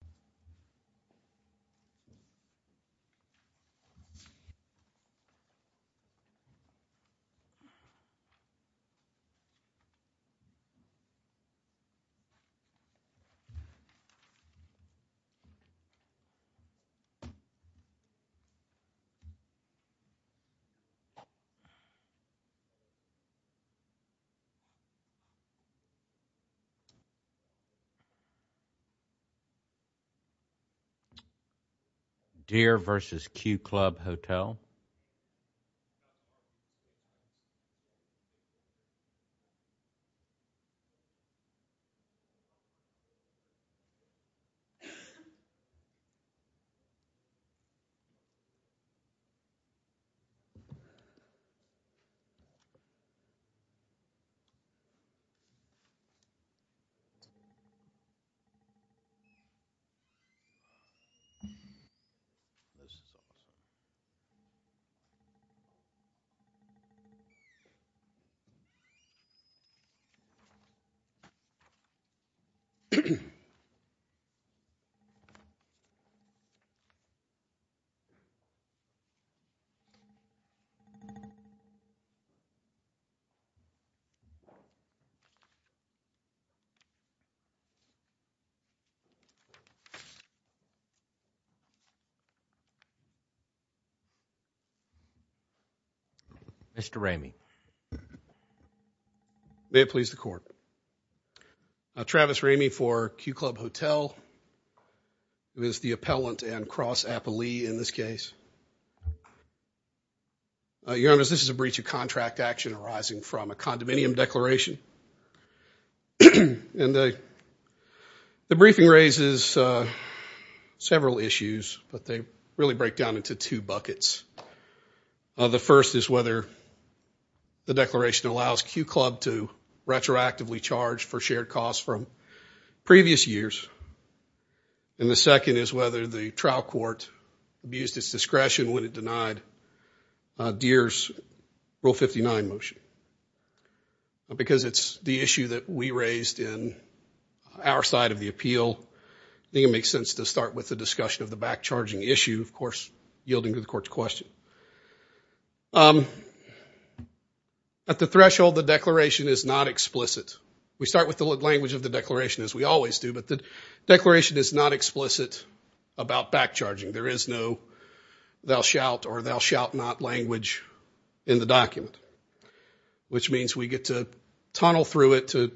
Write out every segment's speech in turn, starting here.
Gary Dear v. Q Club Hotel, LLC, Gary Dear v. Q Club Hotel, LLC, Gary Dear v. Q Club Hotel, Gary Dear v. Q Club Hotel, Gary Dear v. Q Club Hotel, Gary Dear v. Q Club Hotel, Gary Dear v. Q Club Hotel, Gary Dear v. Q Club Hotel, Gary Dear v. Q Club Hotel, Gary Dear v. Q Club Hotel, Mr. Raymi May it please the court Travis Raymi for Q Club Hotel who is the appellant and cross appellee in this case Your honors this is a breach of contract action arising from a condominium declaration It raises several issues but they really break down into two buckets The first is whether the declaration allows Q Club to retroactively charge for shared costs from previous years And the second is whether the trial court abused its discretion when it denied Dear's Rule 59 motion Because it's the issue that we raised in our side of the appeal I think it makes sense to start with the discussion of the back charging issue of course yielding to the court's question At the threshold the declaration is not explicit We start with the language of the declaration as we always do but the declaration is not explicit about back charging There is no thou shalt or thou shalt not language in the document Which means we get to tunnel through it to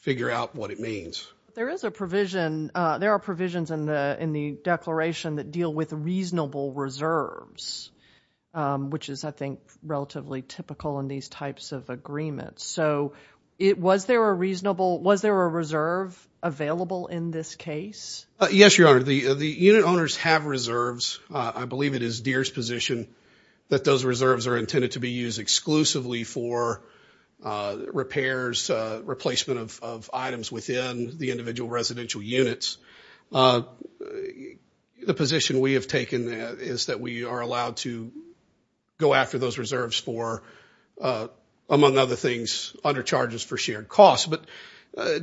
figure out what it means There is a provision there are provisions in the in the declaration that deal with reasonable reserves Which is I think relatively typical in these types of agreements So it was there a reasonable was there a reserve available in this case Yes your honor the the unit owners have reserves I believe it is Dear's position That those reserves are intended to be used exclusively for Repairs replacement of items within the individual residential units The position we have taken is that we are allowed to Go after those reserves for Among other things under charges for shared costs, but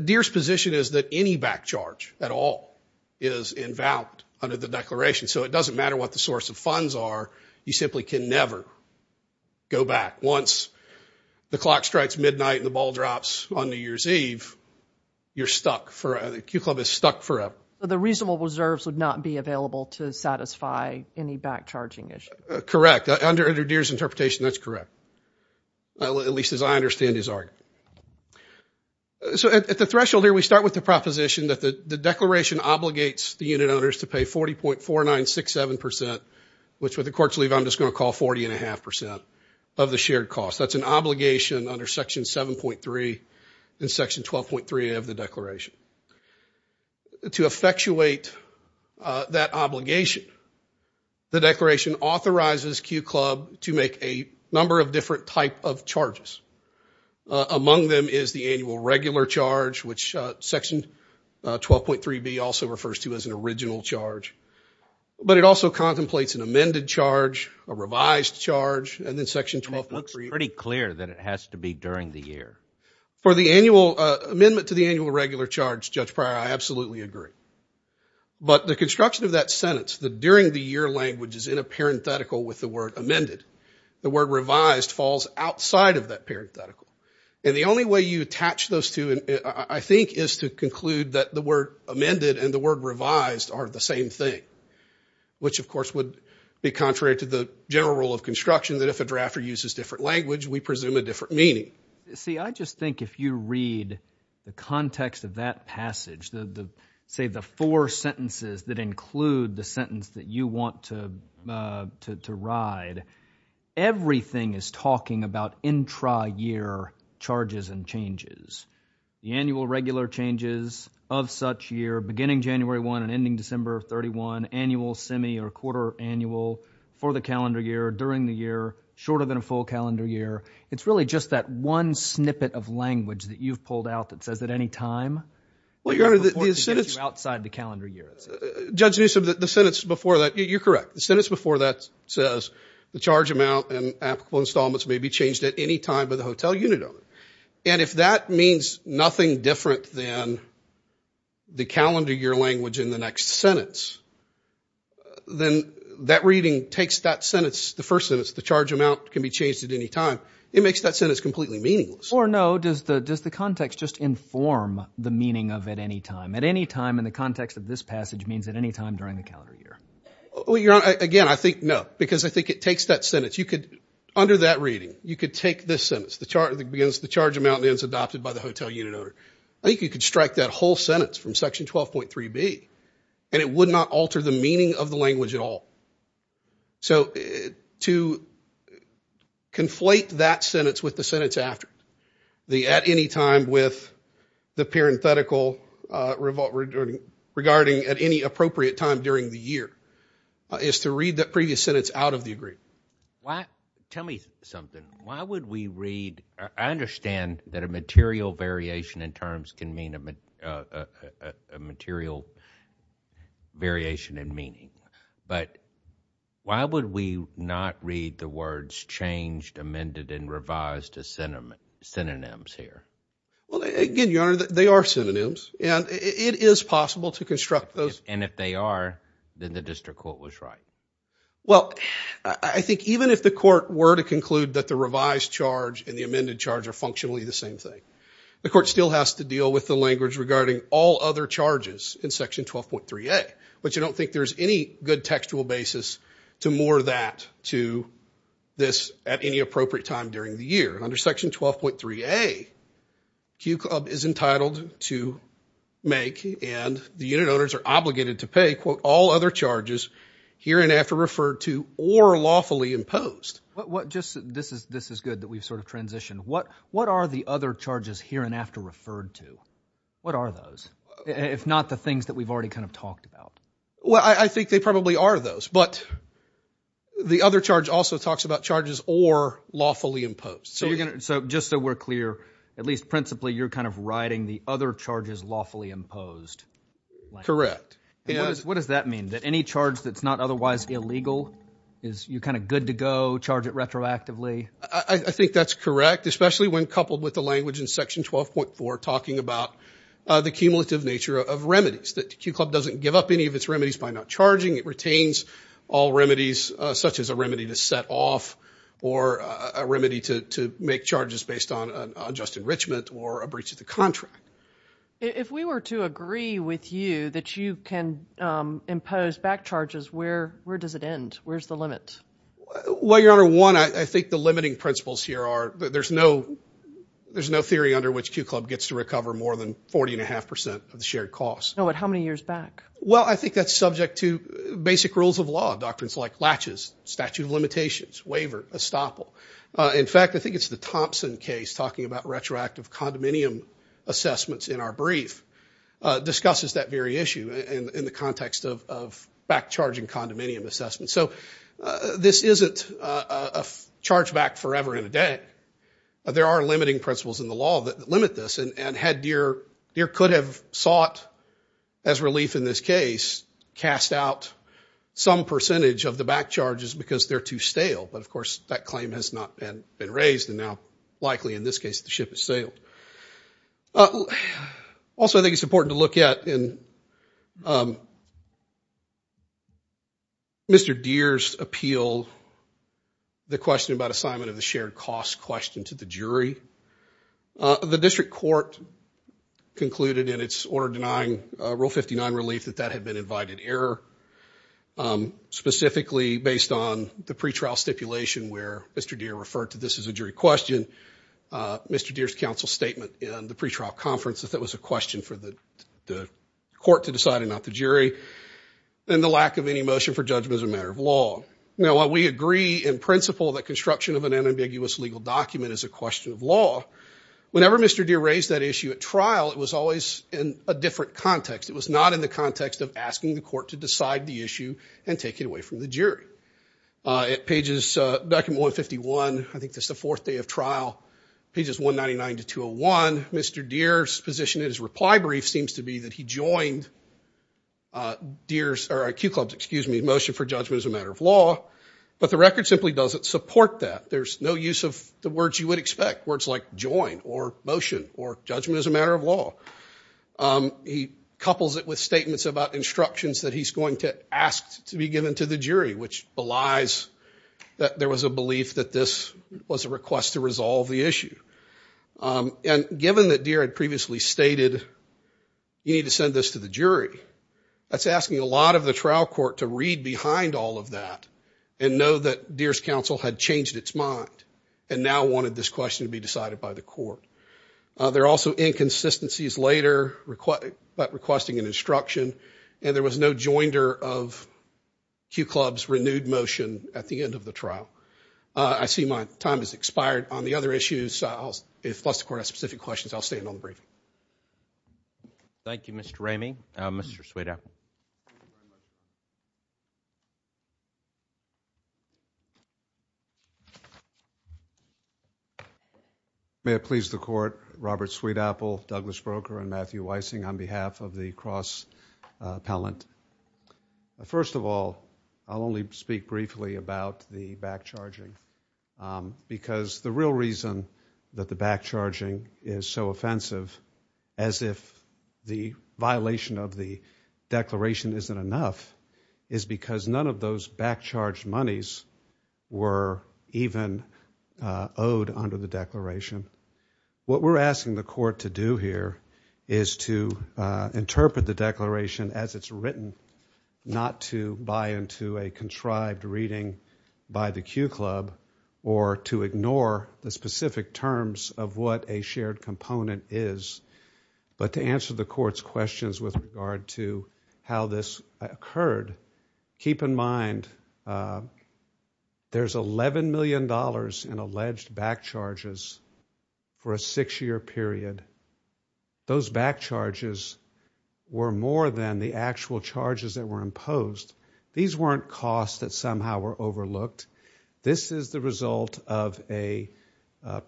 Dear's position is that any back charge at all is Invalid under the declaration so it doesn't matter what the source of funds are you simply can never Go back once the clock strikes midnight And the ball drops on New Year's Eve You're stuck for the Q Club is stuck forever The reasonable reserves would not be available to satisfy any back charging Correct under under Dear's interpretation that's correct At least as I understand his argument So at the threshold here we start with the proposition that the Declaration obligates the unit owners to pay Forty point four nine six seven percent Which with the courts leave I'm just going to call Forty and a half percent of the shared cost That's an obligation under section seven point Three and section twelve point three of the Declaration To effectuate That obligation The declaration authorizes Q Club to make a number of Different type of charges Among them is the annual Regular charge which section Twelve point three B also Refers to as an original charge But it also contemplates an amended Charge a revised charge And then section twelve point three pretty clear That it has to be during the year For the annual amendment to the Annual regular charge judge prior I absolutely Agree but the construction Of that sentence the during the year Language is in a parenthetical with the word Amended the word revised Falls outside of that parenthetical And the only way you attach those Two and I think is to conclude That the word amended and the word Revised are the same thing Which of course would be contrary To the general rule of construction that if a Drafter uses different language we presume a Different meaning see I just think If you read the context Of that passage the Say the four sentences that include The sentence that you want to Ride Everything is talking About intra year Charges and changes The annual regular changes Of such year beginning January one And ending December thirty one annual Semi or quarter annual For the calendar year during the year Shorter than a full calendar year it's really Just that one snippet of language That you've pulled out that says at any time Well your honor the Outside the calendar year judge Newsome that the sentence before that you're correct The sentence before that says The charge amount and applicable installments May be changed at any time by the hotel unit Owner and if that means Nothing different than The calendar year language in The next sentence Then that reading takes That sentence the first sentence the charge amount Can be changed at any time it makes that Sentence completely meaningless or no does The does the context just inform The meaning of at any time at any time In the context of this passage means at any time During the calendar year well your Honor again I think no because I think it takes That sentence you could under that reading You could take this sentence the chart that begins The charge amount ends adopted by the hotel unit Owner I think you could strike that whole Sentence from section 12.3b And it would not alter the meaning of The language at all So to Conflate that sentence With the sentence after the at Any time with the Parenthetical revolt Regarding at any appropriate time During the year is To read that previous sentence out of the agreement Why tell me something Why would we read I Understand that a material variation In terms can mean a Material Variation in meaning But why would We not read the words Changed amended and revised A sentiment synonyms here Well again your honor that they are Synonyms and it is possible To construct those and if they are Then the district court was right Well I think Even if the court were to conclude that the Revised charge and the amended charge are All has to deal with the language regarding All other charges in section 12.3a But you don't think there's any Good textual basis to more That to this At any appropriate time during the year Under section 12.3a Q club is entitled To make and The unit owners are obligated to pay All other charges here and After referred to or lawfully Imposed what just this is This is good that we've sort of transitioned what Are the other charges here and after Referred to what are those If not the things that we've already kind Of talked about well I think they Probably are those but The other charge also talks about charges Or lawfully imposed so You're gonna so just so we're clear at Least principally you're kind of writing the other Charges lawfully imposed Correct yes what does That mean that any charge that's not otherwise Illegal is you kind of good To go charge it retroactively I think that's correct especially When coupled with the language in section 12.4 Talking about the Cumulative nature of remedies that q Club doesn't give up any of its remedies by not charging It retains all remedies Such as a remedy to set off Or a remedy to Make charges based on Enrichment or a breach of the contract If we were to agree With you that you can Impose back charges where Where does it end where's the limit Well your honor one I think the limiting Principles here are there's no There's no theory under which q club Gets to recover more than forty and a half percent Of the shared cost no but how many years back Well I think that's subject to Basic rules of law doctrines like Latches statute of limitations waiver Estoppel in fact I think it's The Thompson case talking about retroactive Condominium assessments In our brief discusses That very issue in the context Of back charging condominium Assessments so this isn't A charge back forever In a day there are limiting Principles in the law that limit this and Had deer deer could have Sought as relief in this Case cast out Some percentage of the back charges Because they're too stale but of course that Claim has not been been raised and now Likely in this case the ship has sailed Also I think it's important to look at in Mr. Deere's appeal The question about assignment of the Shared cost question to the jury The district court Concluded in its Order denying rule fifty nine relief That that had been invited error Specifically based On the pretrial stipulation where Mr. Deere referred to this as a jury question Mr. Deere's council Statement in the pretrial conference that that Was a question for the Court to decide and not the jury And the lack of any motion For judgment as a matter of law now We agree in principle that construction Of an unambiguous legal document is a question Of law whenever Mr. Deere Raised that issue at trial it was always In a different context it was not In the context of asking the court to decide The issue and take it away from the jury At pages Back in one fifty one I think that's the Fourth day of trial pages one ninety Nine to two oh one Mr. Deere's Position in his reply brief seems to be that He joined Deere's or Q clubs excuse me motion For judgment as a matter of law But the record simply doesn't support that There's no use of the words you would expect Words like join or motion Or judgment as a matter of law He couples it with Statements about instructions that he's going to Ask to be given to the jury which Belies that there Was a belief that this was a request To resolve the issue And given that Deere had previously Stated you need to send This to the jury that's asking A lot of the trial court to read behind All of that and know that Deere's counsel had changed its mind And now wanted this question to be Decided by the court There are also inconsistencies later Requesting an instruction And there was no joinder of Q clubs renewed Motion at the end of the trial I see my time has expired On the other issues If the court has specific questions I'll stay until the briefing Thank you Mr. Ramey Mr. Sweetapple May it please the court Robert Sweetapple Douglas Broker and Matthew Weising On behalf of the cross appellant First of all I'll only speak briefly about The back charging Because the real reason That the back charging Is so offensive As if the violation Of the declaration isn't enough Is because none of those Back charged monies Were even Owed under the declaration What we're asking the court To do here is to Interpret the declaration As it's written Not to buy into a contrived reading By the Q club Or to ignore the specific Terms of what a shared component Is But to answer the court's questions With regard to how this occurred Keep in mind There's 11 million dollars in alleged Back charges For a six year period Those back charges Were more than the actual Charges that were imposed These weren't costs That somehow were overlooked This is the result of a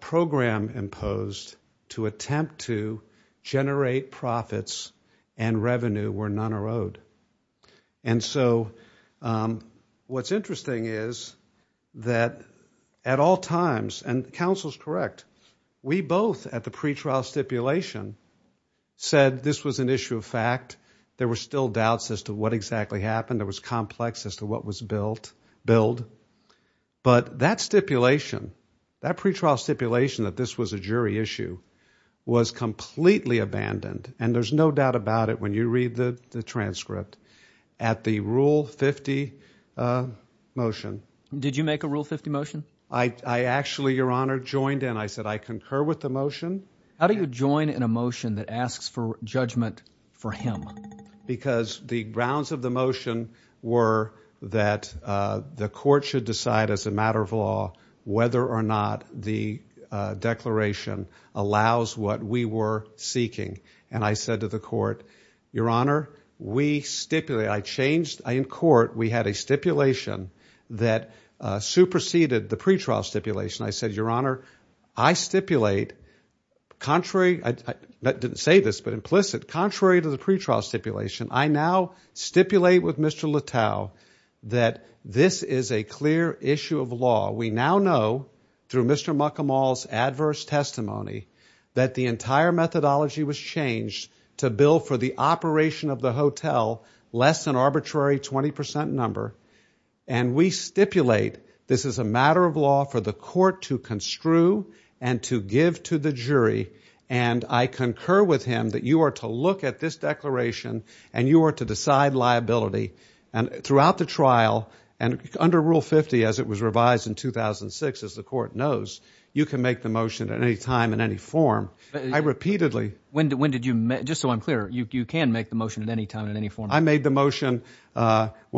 Program imposed To attempt to Generate profits And revenue where none are owed And so What's interesting is That at all times And counsel's correct We both at the pretrial Stipulation said This was an issue of fact There were still doubts as to what exactly Happened there was complex as to what was Built But that stipulation That pretrial stipulation that this was a jury Issue was completely Abandoned and there's no doubt About it when you read the transcript At the rule 50 motion Did you make a rule 50 motion I actually your honor joined in I said I concur with the motion How do you join in a motion that asks For judgment for him Because the grounds of the motion Were that The court should decide as a Matter of law whether or not The declaration Allows what we were Seeking and I said to the court Your honor we Stipulate I changed in court We had a stipulation that Superseded the pretrial Stipulation I said your honor I stipulate Contrary I didn't say this but implicit contrary To the pretrial stipulation I now Stipulate with Mr. Littow That this is a clear Issue of law we now know Through Mr. McCamall's Adverse testimony that the Entire methodology was changed To bill for the operation of the Hotel less than arbitrary 20% number And we stipulate this is a Matter of law for the court to Construe and to give to The jury and I Concur with him that you are to look at This declaration and you are to Decide liability and Throughout the trial and under Rule 50 as it was revised in 2006 As the court knows you can make The motion at any time in any form I repeatedly when did you Just so I'm clear you can make the motion At any time in any form I made the motion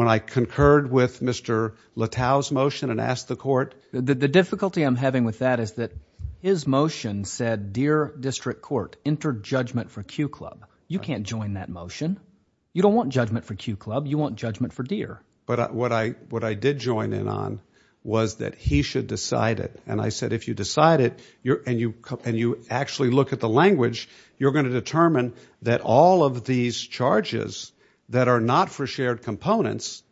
When I concurred with Mr. Littow's motion and asked The court the difficulty I'm having With that is that his motion Said dear district court Interjudgment for Q club you can't Join that motion you don't want Judgment for Q club you want judgment for dear But what I what I did join In on was that he should Decide it and I said if you decide it You're and you and you actually Look at the language you're going to determine That all of these charges That are not for shared Components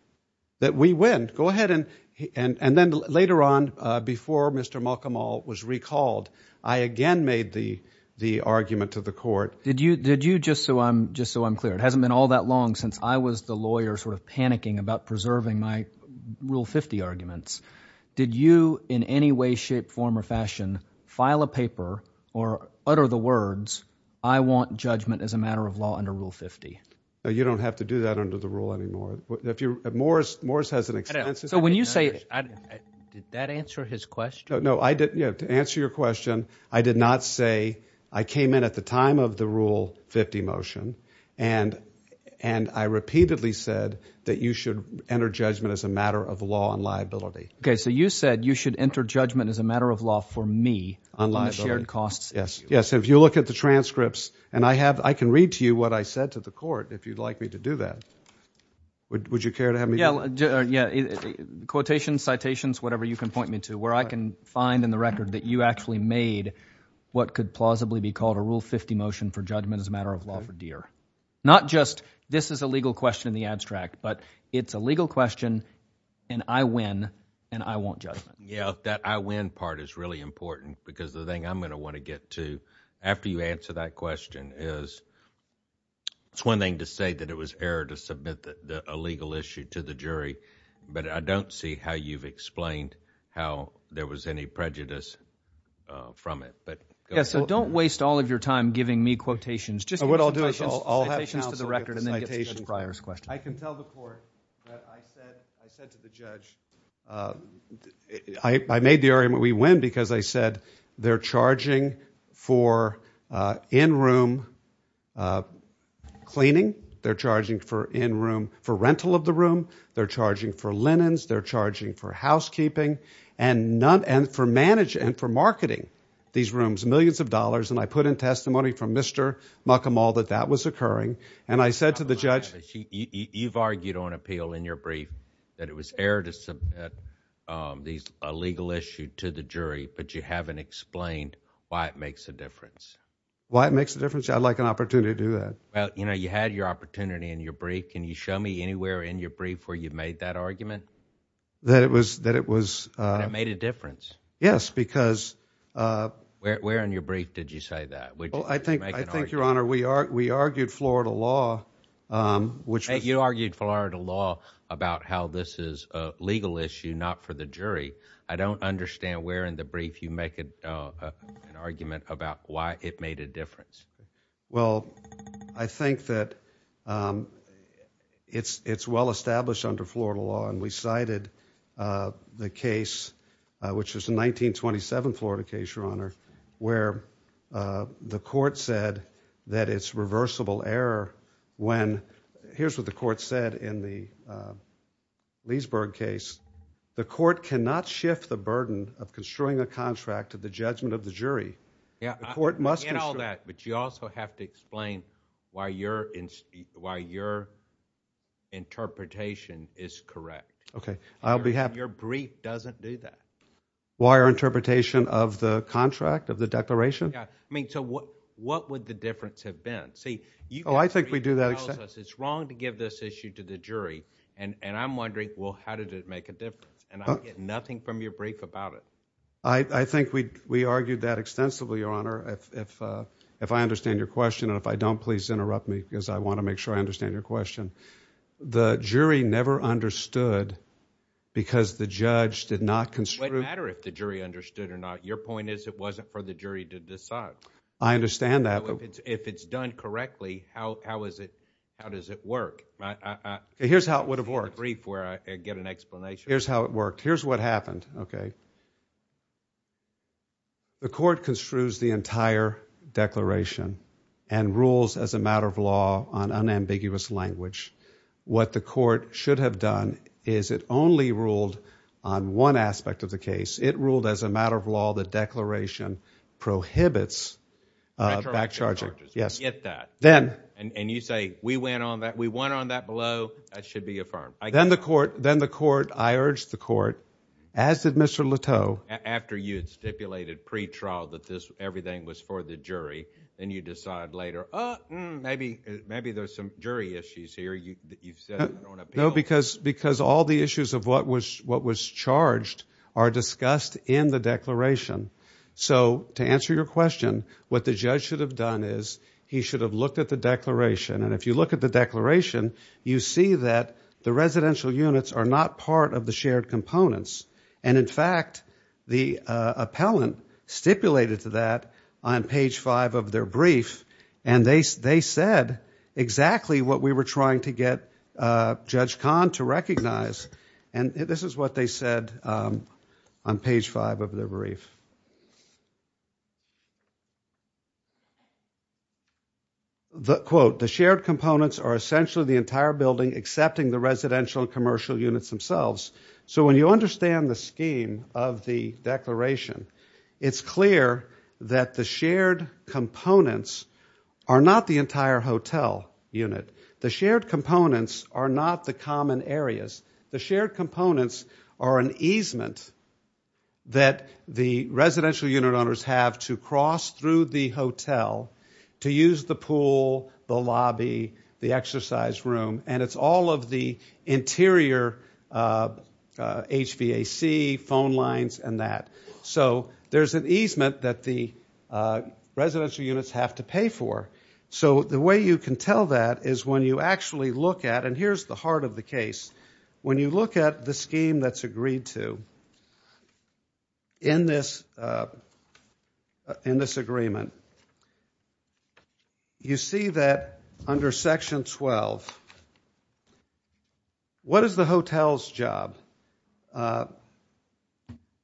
that we Win go ahead and and and then Later on before Mr. Malcolm all was recalled I Again made the the argument To the court did you did you just so I'm Just so I'm clear it hasn't been all that long Since I was the lawyer sort of panicking About preserving my rule 50 arguments did you In any way shape form or fashion File a paper or Utter the words I want Judgment as a matter of law under rule 50 You don't have to do that under the rule Anymore if you're at Morris Morris Has an extensive so when you say That answer his question No I didn't you have to answer your question I did not say I came in At the time of the rule 50 motion And and I repeatedly said that you should Enter judgment as a matter of law On liability okay so you said you should Enter judgment as a matter of law for me On liability shared costs yes Yes if you look at the transcripts and I have I can read to you what I said to the Would you care to have me Yeah yeah Quotations citations whatever you can point me to Where I can find in the record that you actually Made what could plausibly Be called a rule 50 motion for judgment as a Matter of law dear not just This is a legal question in the abstract But it's a legal question And I win and I won't Judge yeah that I win part is Really important because the thing I'm going to want To get to after you answer that Question is It's one thing to say that It was error to submit that a legal Issue to the jury but I Don't see how you've explained How there was any prejudice From it but Don't waste all of your time giving me Quotations just what I'll do is I'll have To the record and then I Can tell the court That I said to the judge I made the Area we win because I said They're charging for In room Cleaning They're charging for in room for rental Of the room they're charging for linens They're charging for housekeeping And none and for manage And for marketing these rooms millions Of dollars and I put in testimony from Mr. Malcolm all that that was occurring And I said to the judge You've argued on appeal in your brief That it was error to Submit these a legal issue To the jury but you haven't explained Why it makes a difference Why it makes a difference I'd like an opportunity to do That well you know you had your opportunity In your brief can you show me anywhere in your Brief where you made that argument That it was that it was Made a difference yes because Where in your brief Did you say that well I think I think Your honor we are we argued florida law Which you argued Florida law about how This is a legal issue not for The jury I don't understand where In the brief you make it An argument about why it made a difference Well I think that It's it's well established Under florida law and we cited The case Which is the 1927 florida Case your honor where The court said That it's reversible error When here's what the court said In the Leesburg case the court Cannot shift the burden of Construing a contract to the judgment of the jury Yeah it must be all that But you also have to explain Why you're in why you're Interpretation Is correct okay I'll Be happy your brief doesn't do that Why our interpretation of The contract of the declaration I mean so what what would the difference Have been see you know I think we do That it's wrong to give this issue To the jury and and I'm wondering Well how did it make a difference and Nothing from your brief about it I I think we we argued that Extensively your honor if If I understand your question and if I don't please Interrupt me because I want to make sure I understand Your question the jury Never understood Because the judge did not Matter if the jury understood or not your Point is it wasn't for the jury to decide I understand that if It's done correctly how how is It how does it work Here's how it would have worked Where I get an explanation here's how it Worked here's what happened okay The court construes the entire Declaration and rules As a matter of law on unambiguous Language what the court Should have done is it only Ruled on one aspect Of the case it ruled as a matter of law The declaration prohibits Back charging Yes get that then and That below that should be affirmed Then the court then the court I urge the Court as did Mr. Leto After you had stipulated Pretrial that this everything was for the Jury and you decide later Maybe maybe there's some Jury issues here you you've said No because because all the issues Of what was what was charged Are discussed in the declaration So to answer your Question what the judge should have done Is he should have looked at the declaration And if you look at the declaration You see that the residential Units are not part of the shared components And in fact The appellant Stipulated to that on page Five of their brief and they They said exactly What we were trying to get Judge Khan to recognize And this is what they said On page five of their brief The quote The shared components Are essentially the entire building Accepting the residential Commercial units themselves So when you understand the scheme Of the declaration It's clear that the Shared components Are not the entire hotel Unit the shared components Are not the common areas The shared components Are an easement That the Residential unit owners have to cross Through the hotel To use the pool The lobby the exercise room And it's all of the interior HVAC Phone lines and that So there's an easement That the residential Units have to pay for So the way you can tell that Is when you actually look at And here's the heart of the case When you look at the scheme That's agreed to In this In this agreement You see that under section Twelve What is the hotel's Job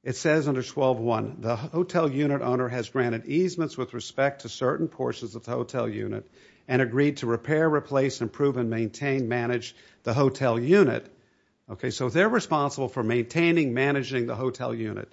It says under twelve One the hotel unit owner has Granted easements with respect to certain Portions of the hotel unit and agreed To repair replace improve and maintain Manage the hotel unit Okay so they're responsible for Maintaining managing the hotel unit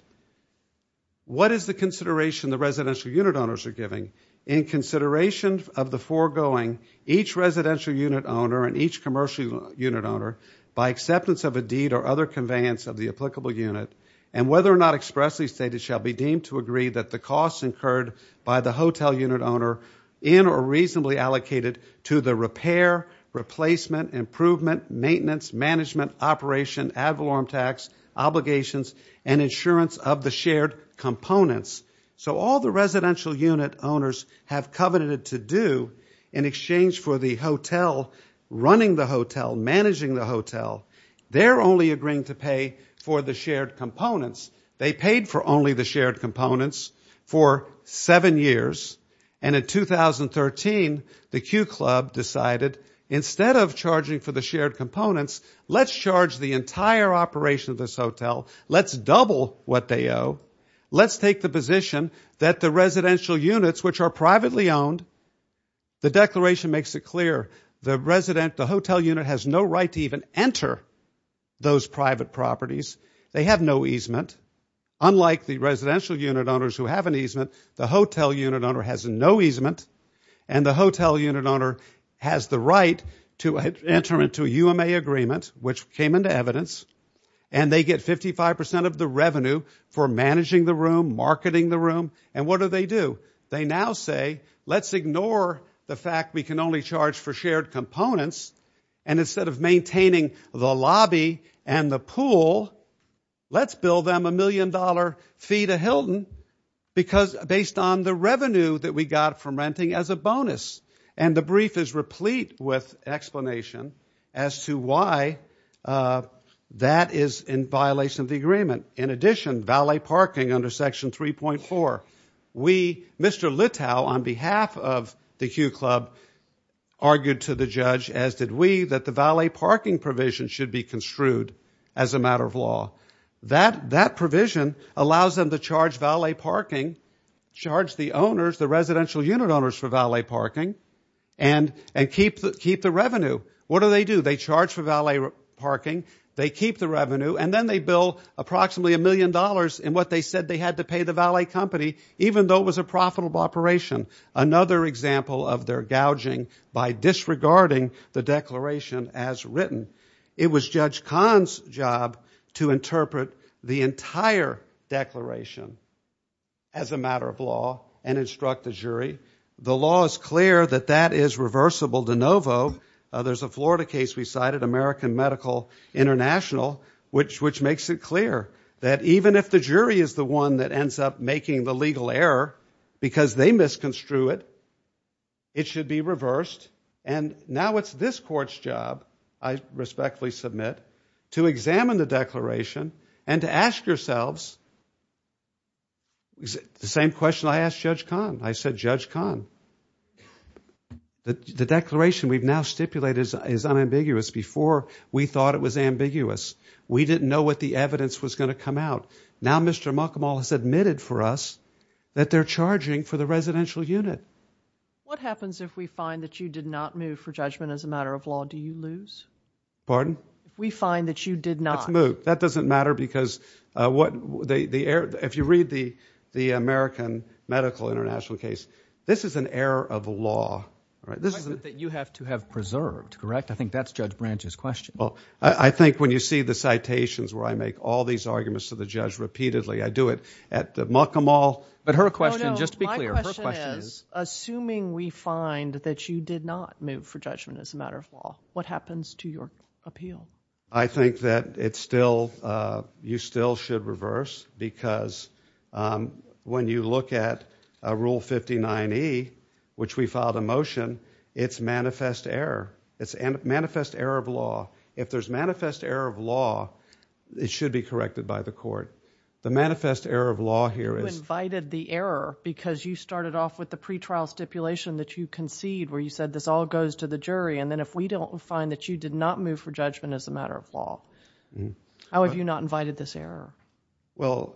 What is the consideration The residential unit owners are giving In consideration of the Foregoing each residential unit Owner and each commercial unit Owner by acceptance of a deed or Other conveyance of the applicable unit And whether or not expressly stated shall Be deemed to agree that the costs incurred By the hotel unit owner In or reasonably allocated to The repair replacement Improvement maintenance management Operation ad valorem tax Obligations and insurance of The shared components So all the residential unit owners Have coveted to do In exchange for the hotel Running the hotel managing The hotel they're only agreeing To pay for the shared components They paid for only the shared Components for seven Years and in 2013 the Q Club decided instead of Charging for the shared components Let's charge the entire operation Of this hotel let's double What they owe let's take the Position that the residential units Which are privately owned The declaration makes it clear The resident the hotel unit has no Right to even enter Those private properties they have No easement unlike the Residential unit owners who have an easement The hotel unit owner has no easement And the hotel unit owner Has the right to Enter into a UMA agreement Which came into evidence and They get 55 percent of the revenue For managing the room marketing The room and what do they do They now say let's ignore The fact we can only charge for shared Components and instead of Maintaining the lobby And the pool let's Build them a million dollar fee To Hilton because based On the revenue that we got from Renting as a bonus and the brief Is replete with explanation As to why That is in Violation of the agreement in addition Valet parking under section 3.4 We Mr. Litow on behalf of the Q Club argued to The judge as did we that the valet Parking provision should be construed As a matter of law that That provision allows them to Charge valet parking Charge the owners the residential unit Owners for valet parking And keep the revenue What do they do they charge for valet Parking they keep the revenue And then they bill approximately a million Dollars in what they said they had to pay the valet Company even though it was a profitable Operation another example Of their gouging by disregarding The declaration as Written it was judge Khan's job to interpret The entire declaration As a matter Of law and instruct the jury The law is clear that that is Reversible de novo There's a Florida case we cited American Medical international which Which makes it clear that even If the jury is the one that ends up Making the legal error because They misconstrued It should be reversed and Now it's this court's job I respectfully submit To examine the declaration And to ask yourselves The same Question I asked judge Khan I said judge Khan The declaration we've now stipulated Is unambiguous before We thought it was ambiguous we Didn't know what the evidence was going to come out Now Mr. Malcolm all has admitted For us that they're charging For the residential unit What happens if we find that you did not move For judgment as a matter of law do you lose Pardon we find that you Did not move that doesn't matter because What the air If you read the the American Medical international case this Is an error of law That you have to have preserved Correct I think that's judge branches question I think when you see the citations Where I make all these arguments to the judge Repeatedly I do it at the Malcolm All but her question just to be clear Assuming we Find that you did not move for Judgment as a matter of law what happens To your appeal I think That it's still You still should reverse because When you look At a rule 59 E which we filed a motion It's manifest error It's manifest error of law if There's manifest error of law It should be corrected by the court The manifest error of law here is Invited the error because you Concede where you said this all goes to the Jury and then if we don't find that you did Not move for judgment as a matter of law How have you not invited this Error well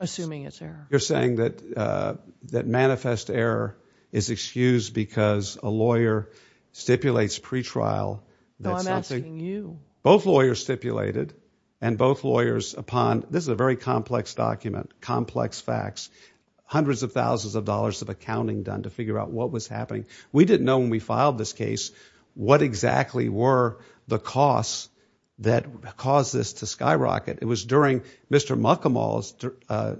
Assuming it's there you're saying That that manifest Error is excused because A lawyer stipulates Pre-trial You both lawyers stipulated And both lawyers upon This is a very complex document complex Facts hundreds of thousands Of dollars of accounting done to figure out What was happening we didn't know when we filed This case what exactly were The costs That caused this to skyrocket It was during Mr. Muckamals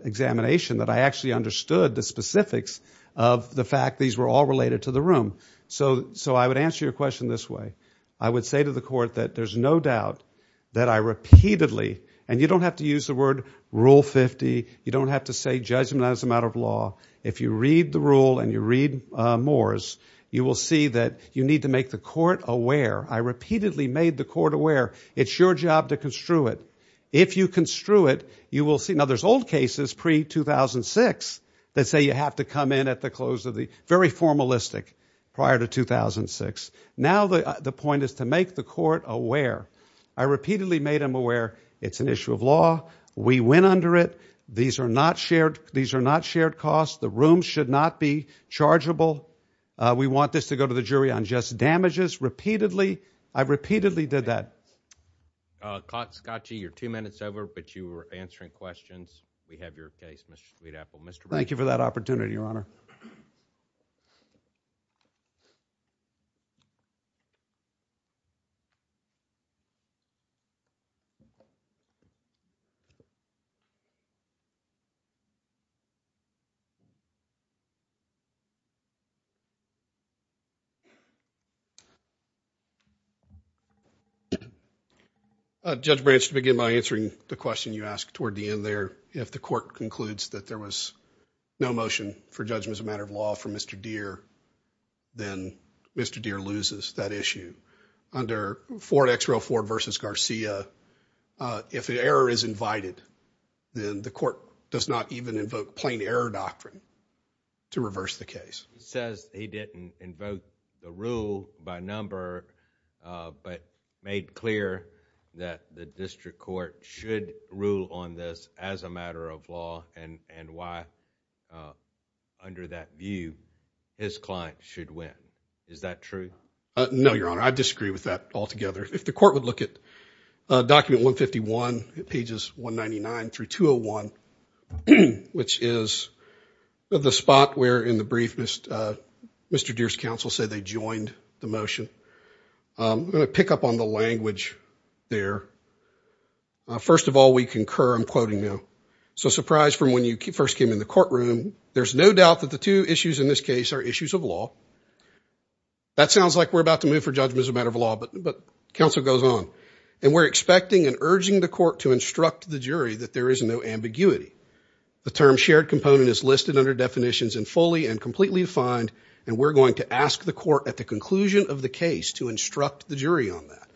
Examination that I actually Understood the specifics Of the fact these were all related to the room So I would answer your question This way I would say to the court that There's no doubt that I Repeatedly and you don't have to use the word Rule 50 you don't have to Say judgment as a matter of law If you read the rule and you read Moore's you will see that You need to make the court aware I repeatedly made the court aware It's your job to construe it If you construe it you will see Now there's old cases pre-2006 That say you have to come in at the close Of the very formalistic Prior to 2006 Now the point is to make the court aware I repeatedly made them aware It's an issue of law We went under it These are not shared costs The room should not be chargeable We want this to go to the jury On just damages I repeatedly did that Scotchy Your two minutes over but you were answering questions We have your case Thank you for that opportunity your honor Judge Branch to begin by answering the question you asked toward the end there If the court concludes that there was No motion for judgment As a matter of law for Mr. Deere Then Mr. Deere loses That issue under Ford vs. Garcia If the error is invited Then the court Does not even invoke plain error doctrine To reverse the case Says he didn't invoke The rule by number But made clear That the district court Should rule on this As a matter of law And why Under that view His client should win Is that true? No your honor I disagree with that all together If the court would look at Document 151 Pages 199-201 Which is The spot where in the brief Mr. Deere's counsel said They joined the motion I'm going to pick up on the language There First of all we concur I'm quoting now So surprised from when you first came in the courtroom There's no doubt that the two issues in this case Are issues of law That sounds like We're about to move for judgment as a matter of law But counsel goes on And we're expecting and urging the court to instruct The jury that there is no ambiguity The term shared component is listed Under definitions and fully and completely Defined and we're going to ask the court At the conclusion of the case to instruct The jury on that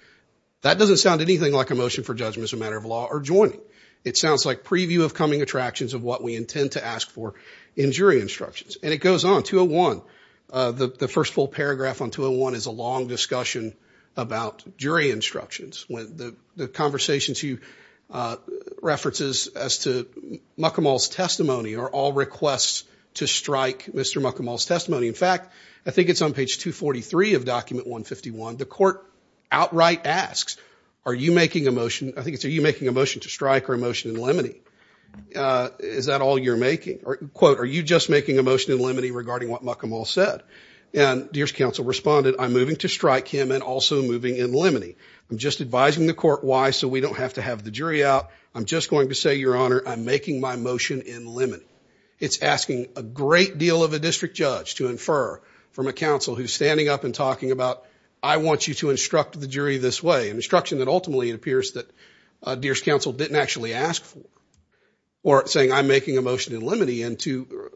That doesn't sound anything like a motion for judgment As a matter of law or joining It sounds like preview of coming attractions of what we intend To ask for in jury instructions And it goes on 201 The first full paragraph on 201 Is a long discussion about Jury instructions The conversations you References as to McCormell's testimony are all requests To strike Mr. McCormell's testimony In fact I think it's on page 243 Of document 151 The court outright asks Are you making a motion To strike or a motion in limine Is that all you're making Or quote are you just making a motion in limine Regarding what McCormell said And Dears counsel responded I'm moving to Strike him and also moving in limine I'm just advising the court why so we Don't have to have the jury out I'm just Going to say your honor I'm making my motion In limine it's asking A great deal of a district judge to Infer from a counsel who's standing up And talking about I want you to Instruct the jury this way an instruction that Ultimately it appears that Dears Counsel didn't actually ask For or saying I'm making a motion In limine and to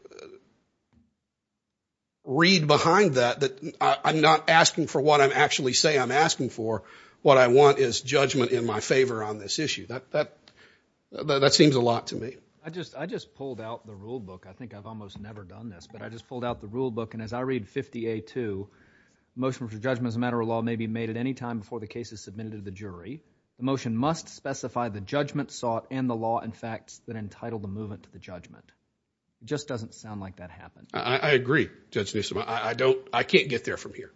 Read behind that I'm not Asking for what I'm actually saying I'm asking For what I want is judgment In my favor on this issue That seems a lot to me I just pulled out the rule book I think I've almost never done this but I just pulled Out the rule book and as I read 50A2 Motion for judgment as a matter of Law may be made at any time before the case is submitted To the jury the motion must Specify the judgment sought in the law In fact that entitle the movement to the judgment It just doesn't sound like that Happened I agree judge I don't I can't get there from here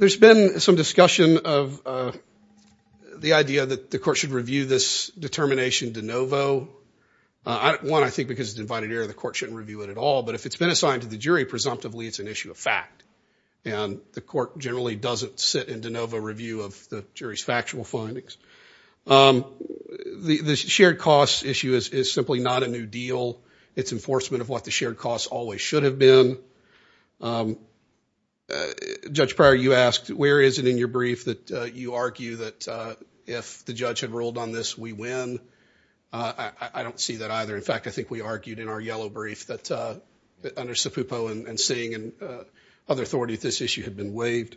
There's been some discussion Of the idea That the court should review this determination De novo One I think because divided air the court Shouldn't review it at all but if it's been assigned to the jury Presumptively it's an issue of fact And the court generally doesn't sit In de novo review of the jury's factual Findings The shared cost issue Is simply not a new deal It's enforcement of what the shared cost always should Have been Judge Prior you asked where is it in your brief that You argue that if The judge had ruled on this we win I don't see that either In fact I think we argued in our yellow brief that Under Sipupo and Singh and other authorities If this issue had been waived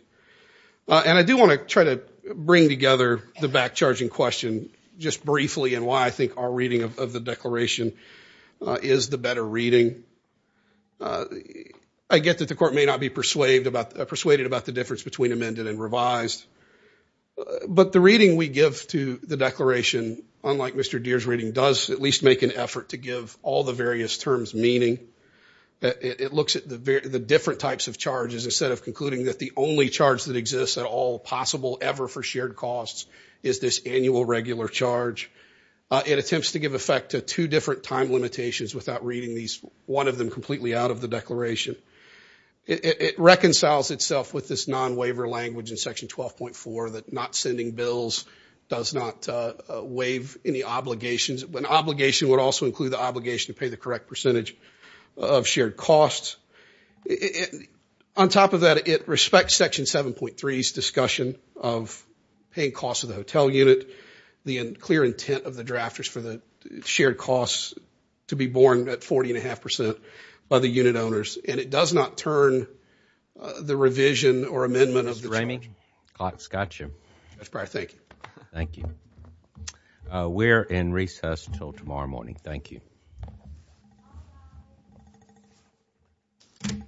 And I do want to try to bring together The back charging question Just briefly and why I think our reading Of the declaration Is the better reading I get that the court May not be persuaded about the Difference between amended and revised But the reading we give To the declaration unlike Mr. Deer's reading does at least make an effort To give all the various terms meaning It looks at The different types of charges instead of Concluding that the only charge that exists At all possible ever for shared costs Is this annual regular charge It attempts to give Effect to two different time limitations Without reading these one of them completely Out of the declaration It reconciles itself with this Non waiver language in section 12.4 That not sending bills Does not waive any Obligations when obligation would also Include the obligation to pay the correct percentage Of shared costs On top of that It respects section 7.3 Discussion of paying Cost of the hotel unit The clear intent of the drafters for the Shared costs to be Borne at 40 and a half percent By the unit owners and it does not turn The revision or Amendment of the charge Mr. Ramey Thank you We're in recess until tomorrow morning Thank you